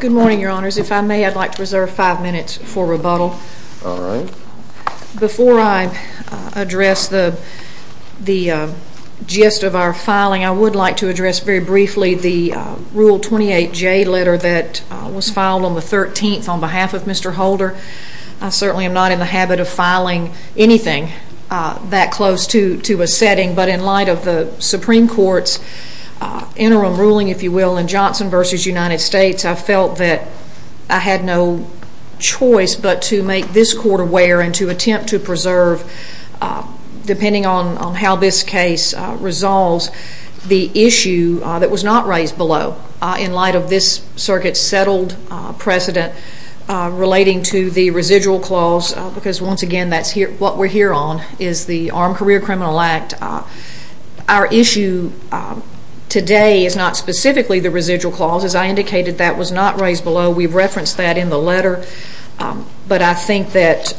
Good morning, your honors. If I may, I'd like to reserve five minutes for rebuttal. Before I address the gist of our filing, I would like to address very briefly the Rule 28J letter that was filed on the 13th on behalf of Mr. Holder. I certainly am not in the habit of filing anything that close to a setting, but in light of the Supreme Court's interim ruling, if you will, in Johnson v. United States, I felt that I had no choice but to make this court aware and to attempt to preserve, depending on how this case resolves, the issue that was not raised below, in light of this circuit's settled precedent relating to the residual clause, because once again, what we're here on is the Armed Career Criminal Act. Our issue today is not specifically the residual clause. As I indicated, that was not raised below. We've referenced that in the letter, but I think that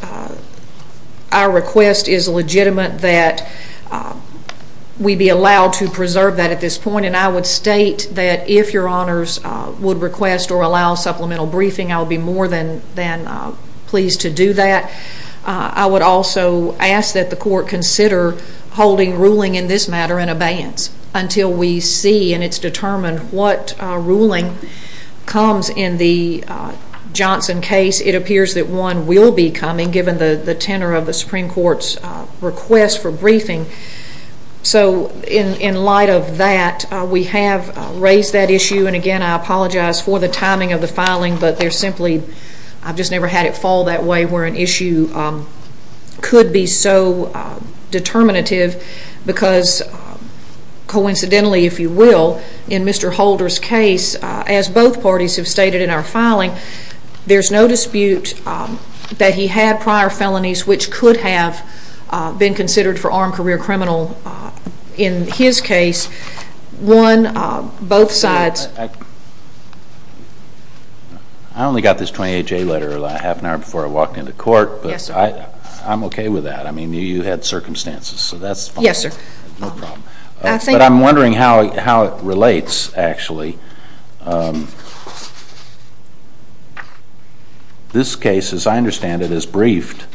our request is legitimate that we be allowed to preserve that at this point. I would state that if your honors would request or allow supplemental briefing, I would be more than pleased to do that. I would also ask that the court consider holding ruling in this matter in abeyance until we see and it's determined what ruling comes in the Johnson case. It appears that one will be coming, given the tenor of the Supreme Court's request for briefing. In light of that, we have raised that issue. Again, I apologize for the timing of the filing, but I've just never had it fall that way, where an issue could be so determinative, because coincidentally, if you will, in Mr. Holder's case, as both parties have stated in our filing, there's no dispute that he had prior felonies, which could have been considered for armed career criminal in his case. One, both sides... I only got this 28-J letter a half an hour before I walked into court, but I'm okay with that. I mean, you had circumstances, so that's fine. Yes, sir. But I'm wondering how it relates, actually. This case, as I understand it, is briefed,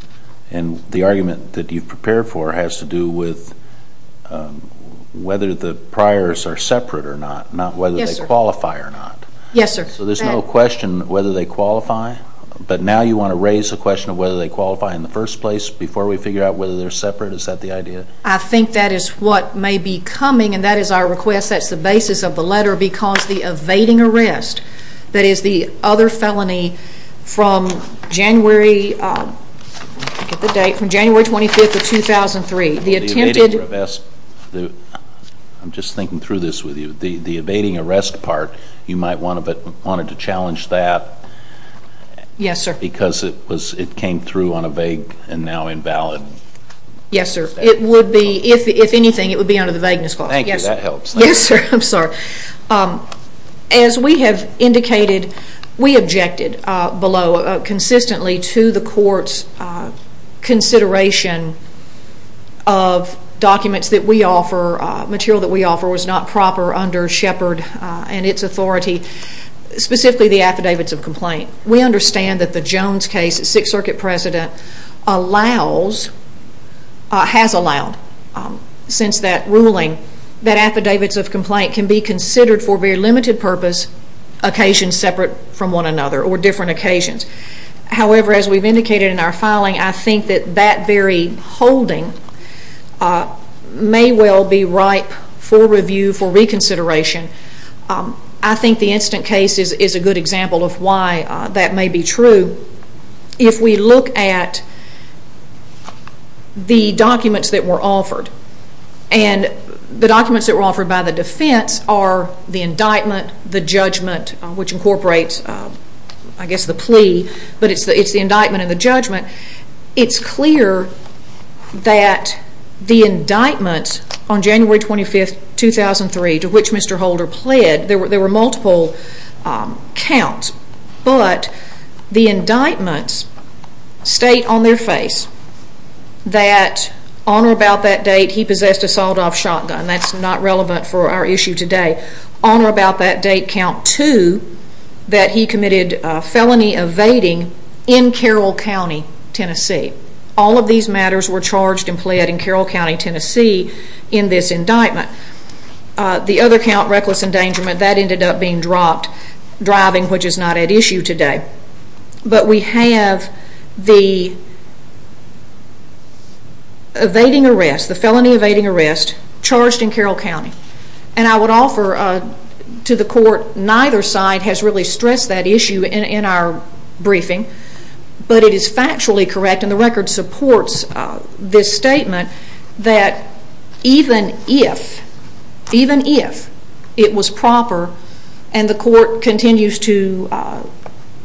and the argument that you've prepared for has to do with whether the priors are separate or not, not whether they qualify or not. Yes, sir. So there's no question whether they qualify, but now you want to raise the question of whether they qualify in the first place before we figure out whether they're separate? Is that the idea? I think that is what may be coming, and that is our request. That's the basis of the letter, because the evading arrest, that is the other felony from January 25th of 2003, the attempted... The evading arrest. I'm just thinking through this with you. The evading arrest part, you might want to challenge that... Yes, sir. ...because it came through on a vague and now invalid... Yes, sir. It would be, if anything, it would be under the vagueness clause. Thank you. That helps. Yes, sir. I'm sorry. As we have indicated, we objected below consistently to the court's consideration of documents that we offer, material that we offer was not proper under Shepard and its authority, specifically the affidavits of complaint. We understand that the Jones case, Sixth Circuit precedent, has allowed, since that ruling, that affidavits of complaint can be considered for very limited purpose, occasions separate from one another or different occasions. However, as we've indicated in our filing, I think that that very holding may well be ripe for review, for reconsideration. I think the instant case is a good example of why that may be true. If we look at the documents that were offered, and the documents that were offered by the defense are the indictment, the judgment, which incorporates, I guess, the plea, but it's the indictment and the judgment. It's clear that the indictments on January 25, 2003, to which Mr. Holder pled, there were multiple counts, but the indictments state on their face that on or about that date he possessed a sawed-off shotgun. That's not relevant for our issue today. On or about that date, count two, that he committed a felony evading in Carroll County, Tennessee. All of these matters were charged and pled in Carroll County, Tennessee, in this indictment. The other count, reckless endangerment, that ended up being dropped, driving, which is not at issue today. But we have the evading arrest, the felony evading arrest, charged in Carroll County. I would offer to the court, neither side has really stressed that issue in our briefing, but it is factually correct, and the record supports this statement, that even if it was proper, and the court continues to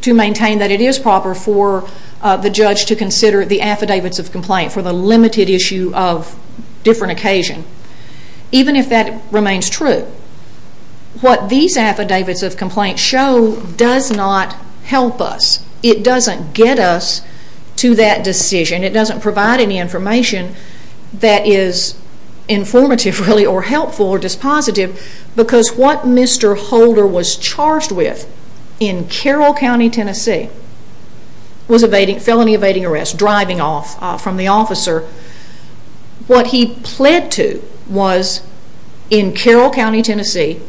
maintain that it is proper, for the judge to consider the affidavits of complaint for the limited issue of different occasion, even if that remains true, what these affidavits of complaint show does not help us. It doesn't get us to that decision. It doesn't provide any information that is informative, really, or helpful, or dispositive, because what Mr. Holder was charged with in Carroll County, Tennessee, was a felony evading arrest, driving off from the officer. What he pled to was, in Carroll County, Tennessee,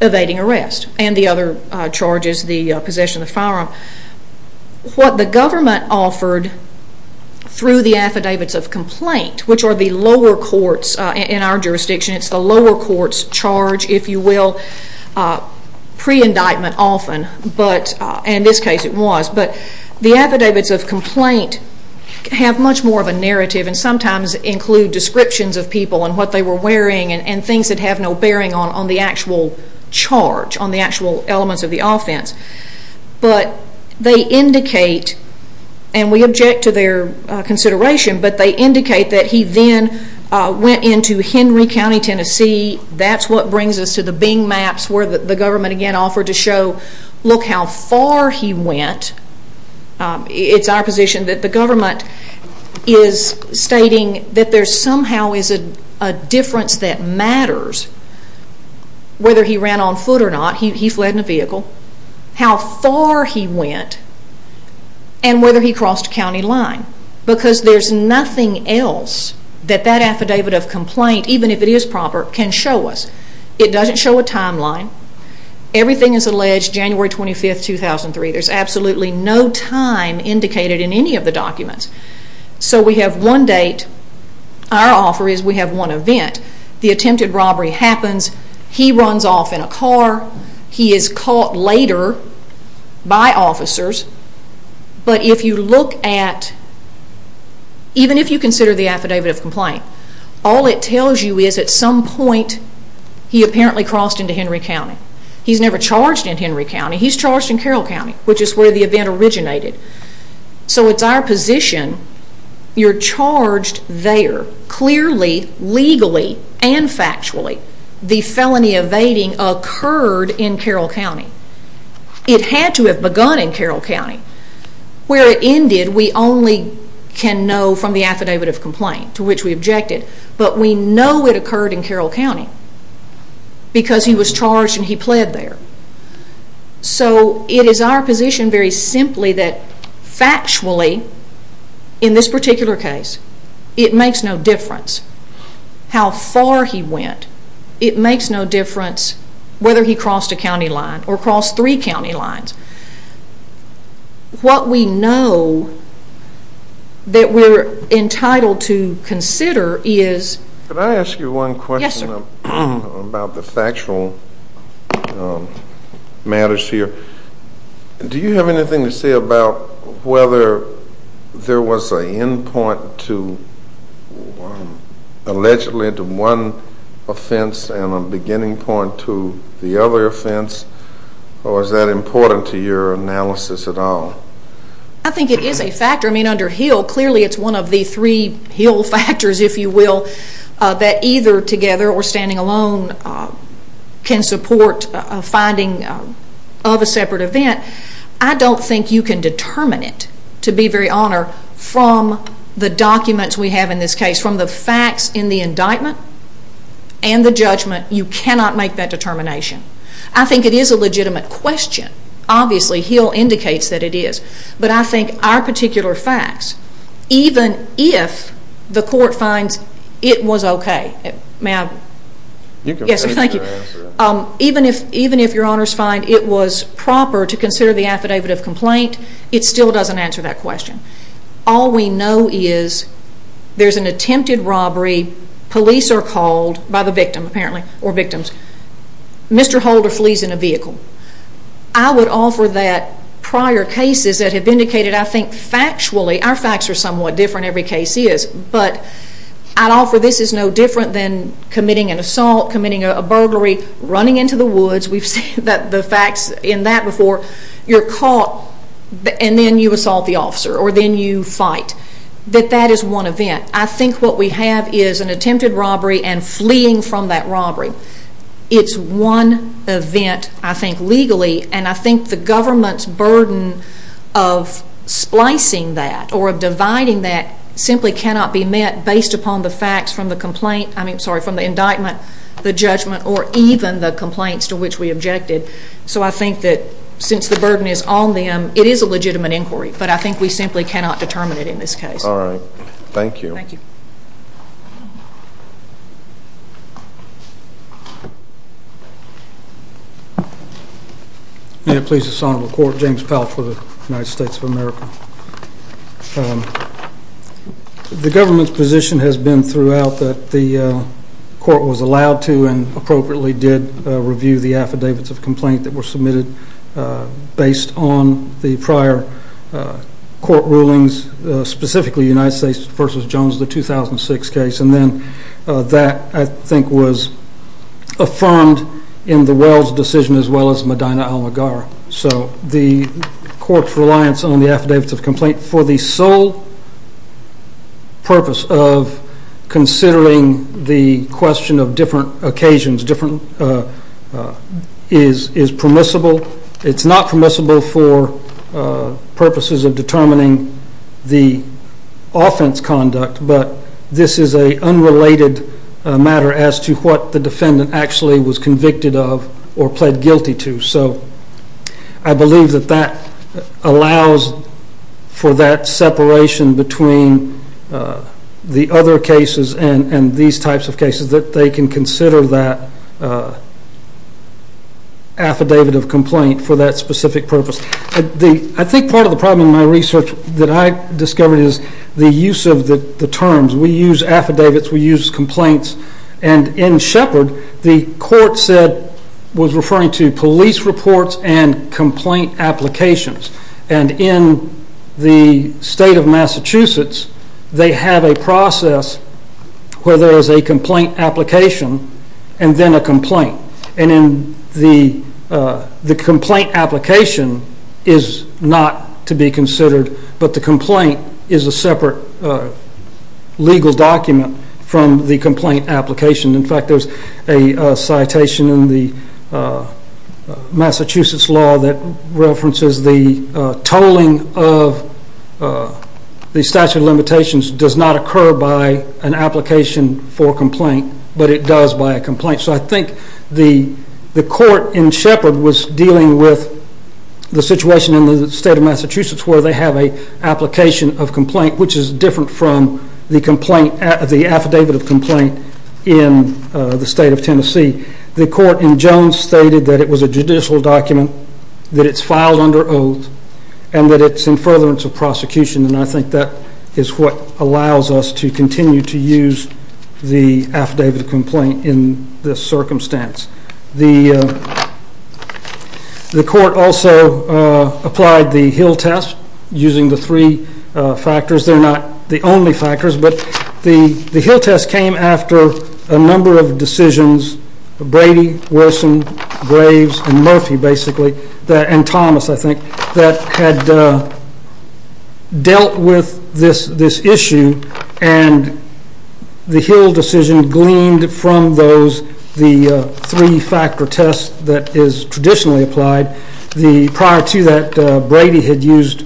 evading arrest, and the other charges, the possession of firearm. What the government offered, through the affidavits of complaint, which are the lower courts in our jurisdiction, it's the lower courts charge, if you will, pre-indictment often, and in this case it was, but the affidavits of complaint have much more of a narrative, and sometimes include descriptions of people, and what they were wearing, and things that have no bearing on the actual charge, on the actual elements of the offense. But they indicate, and we object to their consideration, but they indicate that he then went into Henry County, Tennessee. That's what brings us to the Bing maps, where the government again offered to show, look how far he went. It's our position that the government is stating that there somehow is a difference that matters, whether he ran on foot or not, he fled in a vehicle, how far he went, and whether he crossed a county line, because there's nothing else that that affidavit of complaint, even if it is proper, can show us. It doesn't show a timeline. Everything is alleged January 25, 2003. There's absolutely no time indicated in any of the documents. So we have one date, our offer is we have one event, the attempted robbery happens, he runs off in a car, he is caught later by officers, but if you look at, even if you consider the affidavit of complaint, all it tells you is at some point he apparently crossed into Henry County. He's never charged in Henry County, he's charged in Carroll County, which is where the event originated. So it's our position, you're charged there. Clearly, legally, and factually, the felony evading occurred in Carroll County. It had to have begun in Carroll County. Where it ended we only can know from the affidavit of complaint, to which we objected, but we know it occurred in Carroll County because he was charged and he pled there. So it is our position very simply that factually, in this particular case, it makes no difference how far he went. It makes no difference whether he crossed a county line or crossed three county lines. What we know that we're entitled to consider is... Can I ask you one question about the factual matters here? Do you have anything to say about whether there was an end point to allegedly one offense and a beginning point to the other offense? Or is that important to your analysis at all? I think it is a factor. Under Hill, clearly it's one of the three Hill factors, if you will, that either together or standing alone can support finding of a separate event. I don't think you can determine it, to be very honor, from the documents we have in this case, from the facts in the indictment and the judgment, you cannot make that determination. I think it is a legitimate question. Obviously, Hill indicates that it is. But I think our particular facts, even if the court finds it was okay, even if your honors find it was proper to consider the affidavit of complaint, it still doesn't answer that question. All we know is there's an attempted robbery. Police are called by the victim, apparently, or victims. Mr. Holder flees in a vehicle. I would offer that prior cases that have indicated, I think, factually, our facts are somewhat different, every case is, but I'd offer this is no different than committing an assault, committing a burglary, running into the woods. We've seen the facts in that before. You're caught, and then you assault the officer, or then you fight. That that is one event. I think what we have is an attempted robbery and fleeing from that robbery. It's one event, I think, legally, and I think the government's burden of splicing that or of dividing that simply cannot be met based upon the facts from the indictment, the judgment, or even the complaints to which we objected. So I think that since the burden is on them, it is a legitimate inquiry, but I think we simply cannot determine it in this case. All right. Thank you. Thank you. May it please the Sonoma Court, James Powell for the United States of America. The government's position has been throughout that the court was allowed to and appropriately did review the affidavits of complaint that were submitted based on the prior court rulings, specifically United States v. Jones, the 2006 case, and then that, I think, was affirmed in the Wells decision as well as Medina-Almaguer. So the court's reliance on the affidavits of complaint for the sole purpose of It's not permissible for purposes of determining the offense conduct, but this is an unrelated matter as to what the defendant actually was convicted of or pled guilty to. So I believe that that allows for that separation between the other cases and these types of cases that they can consider that affidavit of complaint for that specific purpose. I think part of the problem in my research that I discovered is the use of the terms. We use affidavits. We use complaints. And in Shepard, the court was referring to police reports and complaint applications. And in the state of Massachusetts, they have a process where there is a complaint application and then a complaint. And then the complaint application is not to be considered, but the complaint is a separate legal document from the complaint application. In fact, there's a citation in the Massachusetts law that references the tolling of the statute of limitations does not occur by an application for complaint, but it does by a complaint. So I think the court in Shepard was dealing with the situation in the state of Massachusetts where they have an application of complaint, which is different from the affidavit of complaint in the state of Tennessee. The court in Jones stated that it was a judicial document, that it's filed under oath, and that it's in furtherance of prosecution. And I think that is what allows us to continue to use the affidavit of complaint in this circumstance. The court also applied the Hill test using the three factors. They're not the only factors, but the Hill test came after a number of decisions, Brady, Wilson, Graves, and Murphy, basically, and Thomas, I think, that had dealt with this issue, and the Hill decision gleaned from those the three-factor test that is traditionally applied. Prior to that, Brady had used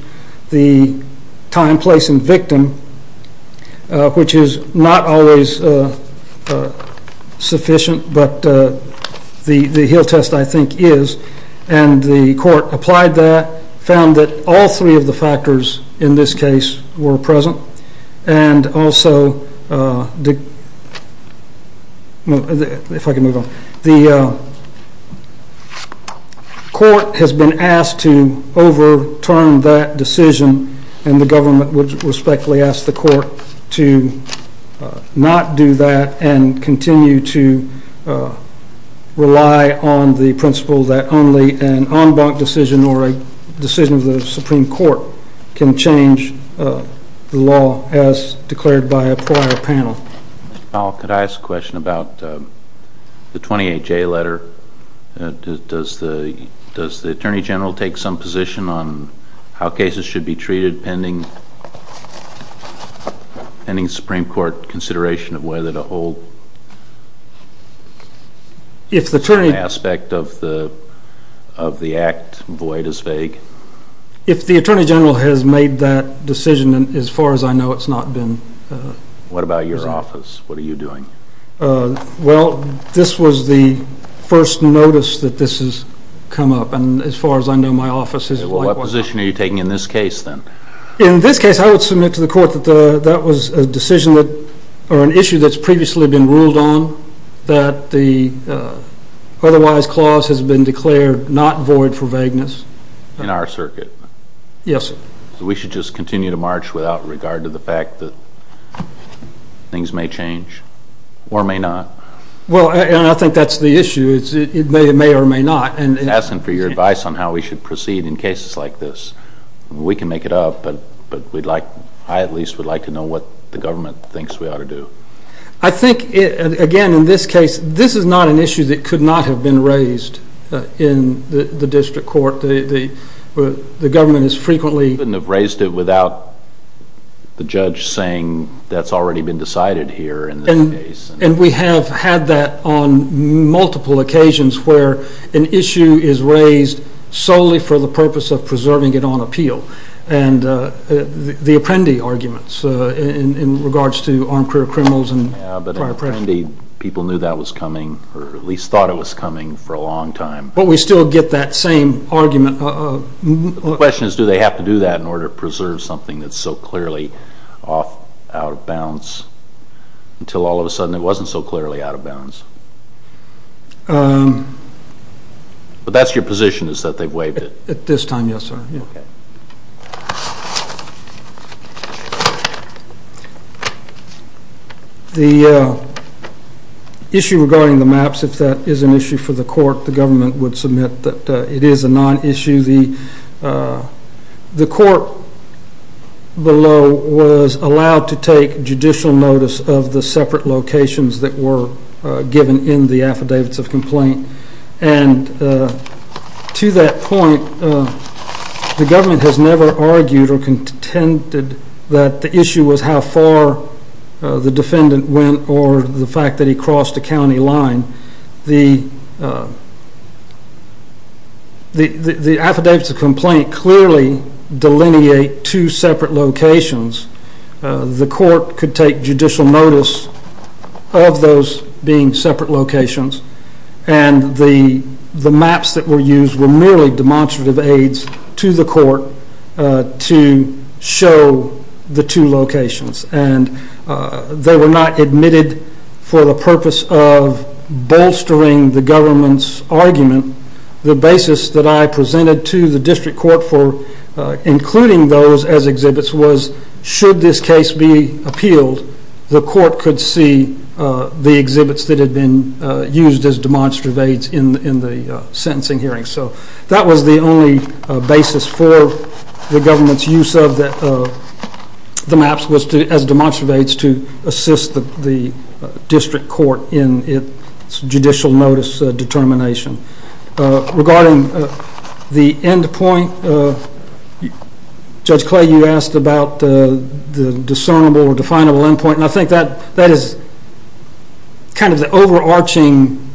the time, place, and victim, which is not always sufficient, but the Hill test, I think, is. And the court applied that, found that all three of the factors in this case were present, and also the court has been asked to overturn that decision, and the government would respectfully ask the court to not do that and continue to rely on the principle that only an en banc decision or a decision of the Supreme Court can change the law as declared by a prior panel. Mr. Powell, could I ask a question about the 28-J letter? Does the Attorney General take some position on how cases should be treated pending the Supreme Court consideration of whether to hold some aspect of the act void as vague? If the Attorney General has made that decision, as far as I know, it's not been presented. What about your office? What are you doing? Well, this was the first notice that this has come up, and as far as I know, my office is likewise. Well, what position are you taking in this case, then? In this case, I would submit to the court that that was a decision or an issue that's previously been ruled on, that the otherwise clause has been declared not void for vagueness. In our circuit? Yes, sir. So we should just continue to march without regard to the fact that things may change or may not? Well, and I think that's the issue. It may or may not. I'm asking for your advice on how we should proceed in cases like this. We can make it up, but I at least would like to know what the government thinks we ought to do. I think, again, in this case, this is not an issue that could not have been raised in the district court. The government has frequently… Couldn't have raised it without the judge saying that's already been decided here in this case. And we have had that on multiple occasions where an issue is raised solely for the purpose of preserving it on appeal. And the Apprendi arguments in regards to armed career criminals and prior pressure. Yeah, but in Apprendi, people knew that was coming or at least thought it was coming for a long time. But we still get that same argument. The question is do they have to do that in order to preserve something that's so clearly off, out of bounds until all of a sudden it wasn't so clearly out of bounds? But that's your position is that they've waived it? At this time, yes, sir. The issue regarding the maps, if that is an issue for the court, the government would submit that it is a non-issue. The court below was allowed to take judicial notice of the separate locations that were given in the affidavits of complaint. And to that point, the government has never argued or contended that the issue was how far the defendant went or the fact that he crossed a county line. The affidavits of complaint clearly delineate two separate locations. The court could take judicial notice of those being separate locations. And the maps that were used were merely demonstrative aids to the court to show the two locations. And they were not admitted for the purpose of bolstering the government's argument. The basis that I presented to the district court for including those as exhibits was should this case be appealed, the court could see the exhibits that had been used as demonstrative aids in the sentencing hearing. So that was the only basis for the government's use of the maps as demonstrative aids to assist the district court in its judicial notice determination. Regarding the end point, Judge Clay, you asked about the discernible or definable end point. And I think that is kind of the overarching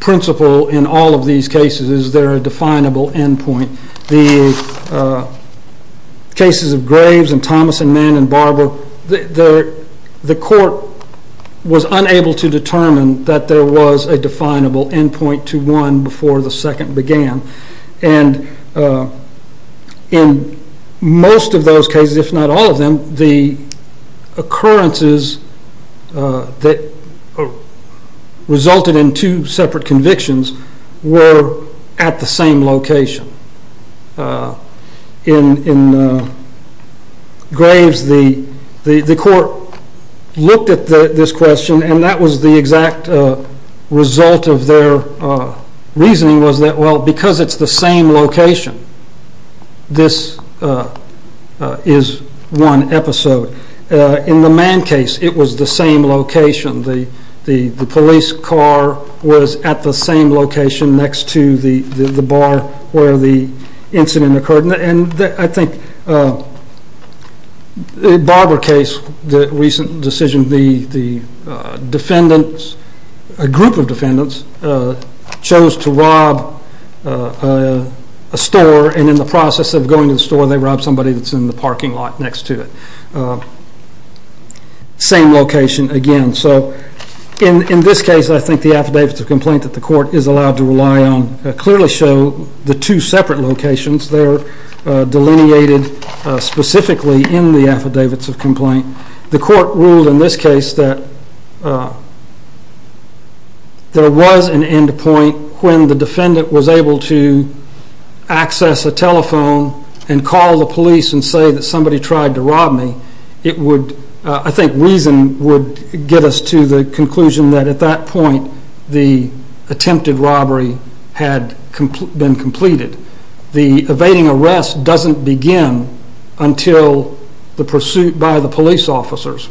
principle in all of these cases is there a definable end point. The cases of Graves and Thomas and Mann and Barber, the court was unable to determine that there was a definable end point to one before the second began. And in most of those cases, if not all of them, the occurrences that resulted in two separate convictions were at the same location. In Graves the court looked at this question and that was the exact result of their reasoning was that because it's the same location, this is one episode. In the Mann case, it was the same location. The police car was at the same location next to the bar where the incident occurred. In the Barber case, the group of defendants chose to rob a store and in the process of going to the store they robbed somebody that was in the parking lot next to it. Same location again. So in this case, I think the affidavits of complaint that the court is allowed to rely on clearly show the two separate locations. They're delineated specifically in the affidavits of complaint. The court ruled in this case that there was an end point when the defendant was able to access a telephone and call the police and say that somebody tried to rob me. I think reason would get us to the conclusion that at that point the attempted robbery had been completed. The evading arrest doesn't begin until the pursuit by the police officers.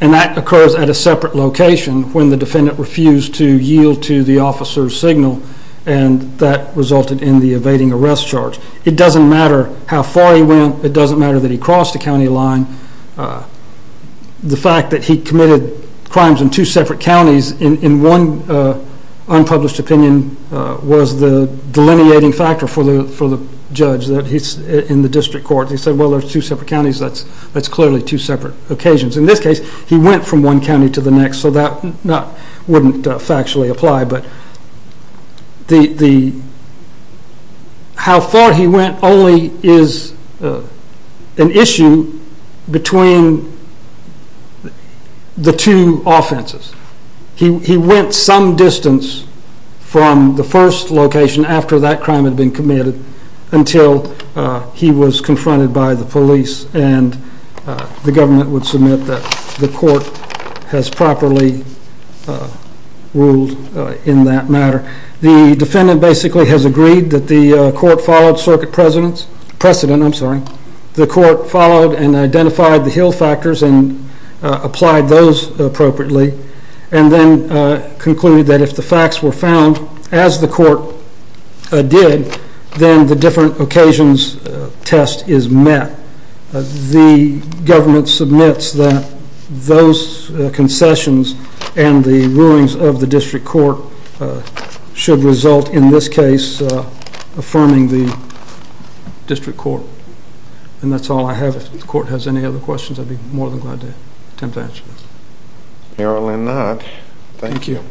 And that occurs at a separate location when the defendant refused to yield to the officer's signal and that resulted in the evading arrest charge. It doesn't matter how far he went. It doesn't matter that he crossed a county line. The fact that he committed crimes in two separate counties in one unpublished opinion was the delineating factor for the judge in the district court. They said, well, there's two separate counties. That's clearly two separate occasions. In this case, he went from one county to the next so that wouldn't factually apply. How far he went only is an issue between the two offenses. He went some distance from the first location after that crime had been committed until he was confronted by the police. And the government would submit that the court has properly ruled in that matter. The defendant basically has agreed that the court followed circuit precedents. I'm sorry. The court followed and identified the Hill factors and applied those appropriately and then concluded that if the facts were found as the court did, then the different occasions test is met. The government submits that those concessions and the rulings of the district court should result in this case affirming the district court. And that's all I have. If the court has any other questions, I'd be more than glad to attempt to answer those. Apparently not. Thank you.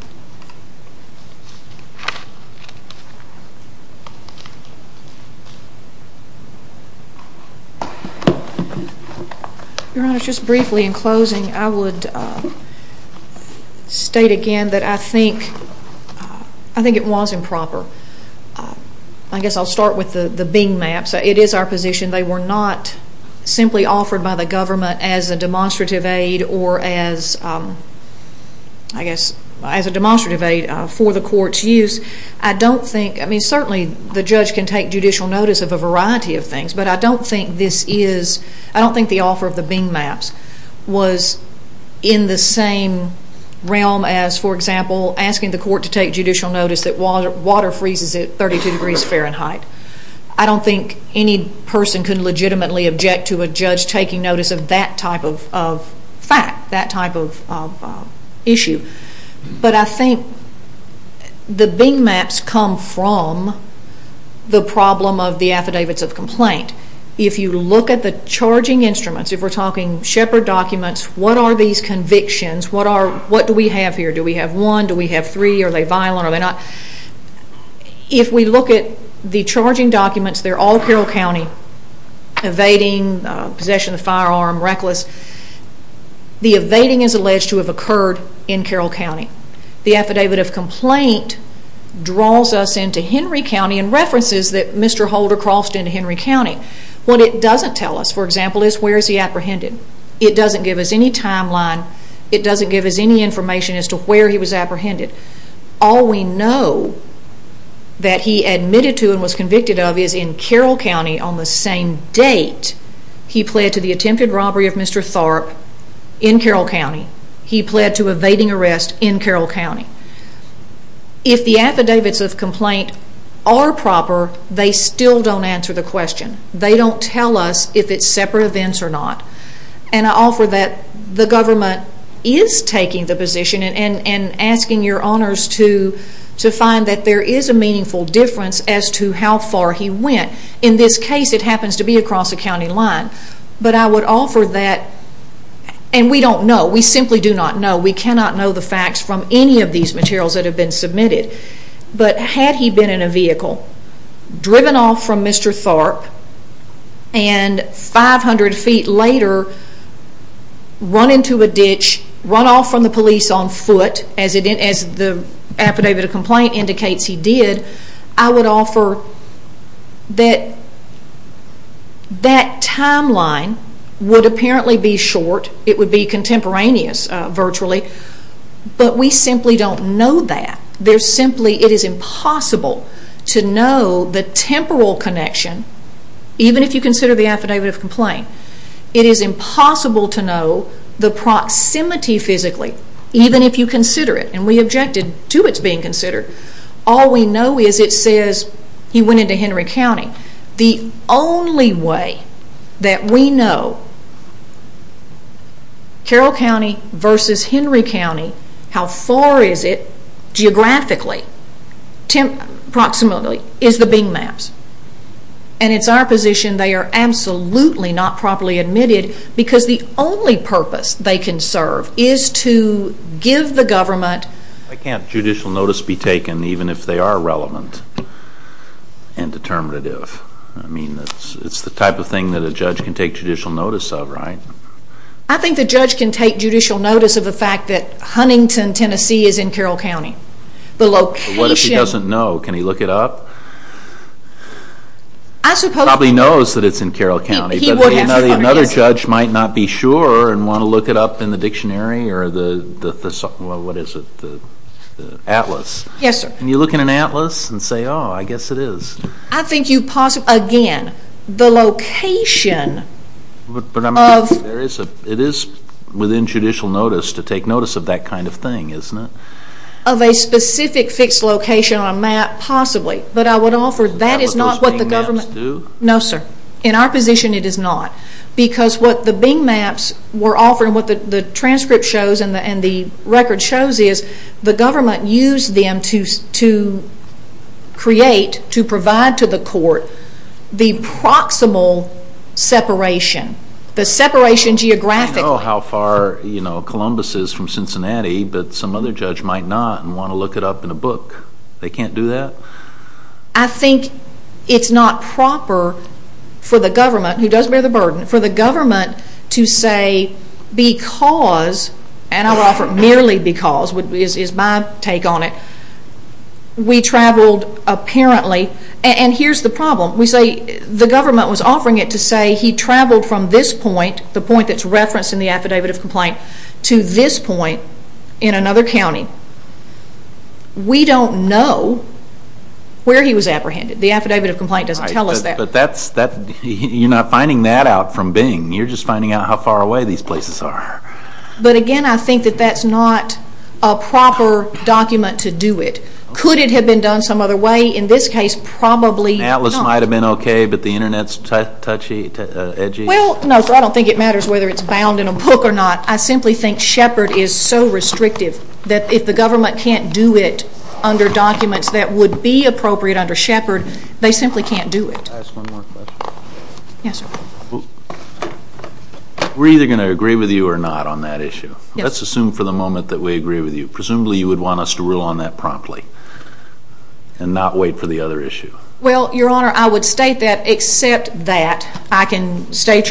Your Honor, just briefly in closing, I would state again that I think it was improper. I guess I'll start with the Bing maps. It is our position. They were not simply offered by the government as a demonstrative aid or as, I guess, as a demonstrative aid for the court's use. I don't think, I mean certainly the judge can take judicial notice of a variety of things, but I don't think this is, I don't think the offer of the Bing maps was in the same realm as, for example, asking the court to take judicial notice that water freezes at 32 degrees Fahrenheit. I don't think any person can legitimately object to a judge taking notice of that type of fact, that type of issue. But I think the Bing maps come from the problem of the affidavits of complaint. If you look at the charging instruments, if we're talking Shepard documents, what are these convictions? What do we have here? Do we have one? Do we have three? Are they violent? If we look at the charging documents, they're all Carroll County, evading, possession of a firearm, reckless. The evading is alleged to have occurred in Carroll County. The affidavit of complaint draws us into Henry County and references that Mr. Holder crossed into Henry County. What it doesn't tell us, for example, is where is he apprehended. It doesn't give us any timeline. It doesn't give us any information as to where he was apprehended. All we know that he admitted to and was convicted of is in Carroll County on the same date he pled to the attempted robbery of Mr. Tharp in Carroll County. He pled to evading arrest in Carroll County. If the affidavits of complaint are proper, they still don't answer the question. They don't tell us if it's separate events or not. And I offer that the government is taking the position and asking your honors to find that there is a meaningful difference as to how far he went. In this case, it happens to be across a county line. But I would offer that, and we don't know. We simply do not know. We cannot know the facts from any of these materials that have been submitted. But had he been in a vehicle, driven off from Mr. Tharp, and 500 feet later run into a ditch, run off from the police on foot, as the affidavit of complaint indicates he did, I would offer that that timeline would apparently be short. It would be contemporaneous, virtually. But we simply don't know that. It is impossible to know the temporal connection, even if you consider the affidavit of complaint. It is impossible to know the proximity physically, even if you consider it. And we object to its being considered. All we know is it says he went into Henry County. The only way that we know Carroll County versus Henry County, how far is it geographically, approximately, is the Bing maps. And it's our position they are absolutely not properly admitted because the only purpose they can serve is to give the government... Why can't judicial notice be taken even if they are relevant and determinative? I mean, it's the type of thing that a judge can take judicial notice of, right? I think the judge can take judicial notice of the fact that Huntington, Tennessee is in Carroll County. The location... What if he doesn't know? Can he look it up? He probably knows that it's in Carroll County. Another judge might not be sure and want to look it up in the dictionary or the atlas. Yes, sir. Can you look in an atlas and say, oh, I guess it is? I think you possibly... Again, the location of... It is within judicial notice to take notice of that kind of thing, isn't it? Of a specific fixed location on a map, possibly. But I would offer that is not what the government... No, sir. In our position, it is not. Because what the Bing maps were offering, what the transcript shows and the record shows is the government used them to create, to provide to the court the proximal separation, the separation geographically. I know how far Columbus is from Cincinnati, but some other judge might not and want to look it up in a book. They can't do that? I think it's not proper for the government, who does bear the burden, for the government to say because, and I would offer merely because is my take on it, we traveled apparently... And here's the problem. We say the government was offering it to say he traveled from this point, the point that's referenced in the affidavit of complaint, to this point in another county. We don't know where he was apprehended. The affidavit of complaint doesn't tell us that. But that's, you're not finding that out from Bing. You're just finding out how far away these places are. But again, I think that that's not a proper document to do it. Could it have been done some other way? In this case, probably not. An atlas might have been okay, but the internet's touchy, edgy? Well, no, sir, I don't think it matters whether it's bound in a book or not. I simply think Shepard is so restrictive that if the government can't do it under documents that would be appropriate under Shepard, they simply can't do it. Can I ask one more question? Yes, sir. We're either going to agree with you or not on that issue. Let's assume for the moment that we agree with you. Presumably you would want us to rule on that promptly and not wait for the other issue. Well, Your Honor, I would state that, except that, I can state to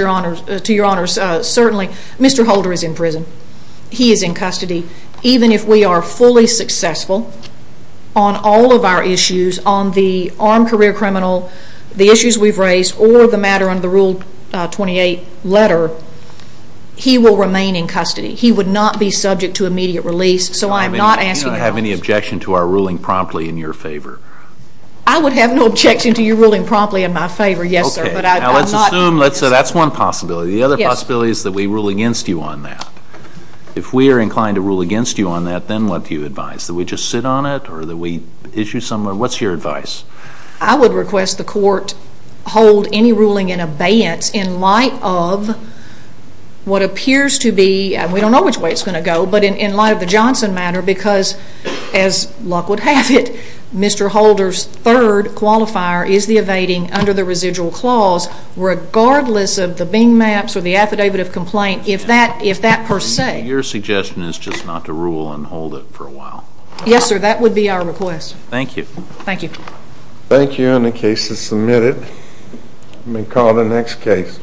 Your Honor, certainly Mr. Holder is in prison. He is in custody. Even if we are fully successful on all of our issues, on the armed career criminal, the issues we've raised, or the matter under the Rule 28 letter, he will remain in custody. He would not be subject to immediate release, so I'm not asking that. Do you not have any objection to our ruling promptly in your favor? I would have no objection to your ruling promptly in my favor, yes, sir. Okay. Now let's assume that's one possibility. The other possibility is that we rule against you on that. If we are inclined to rule against you on that, then what do you advise? That we just sit on it or that we issue somewhere? What's your advice? I would request the court hold any ruling in abeyance in light of what appears to be, and we don't know which way it's going to go, but in light of the Johnson matter, because, as luck would have it, Mr. Holder's third qualifier is the evading under the residual clause, regardless of the Bing maps or the affidavit of complaint, if that per se. Your suggestion is just not to rule and hold it for a while? Yes, sir. That would be our request. Thank you. Thank you. Thank you. And the case is submitted. Let me call the next case.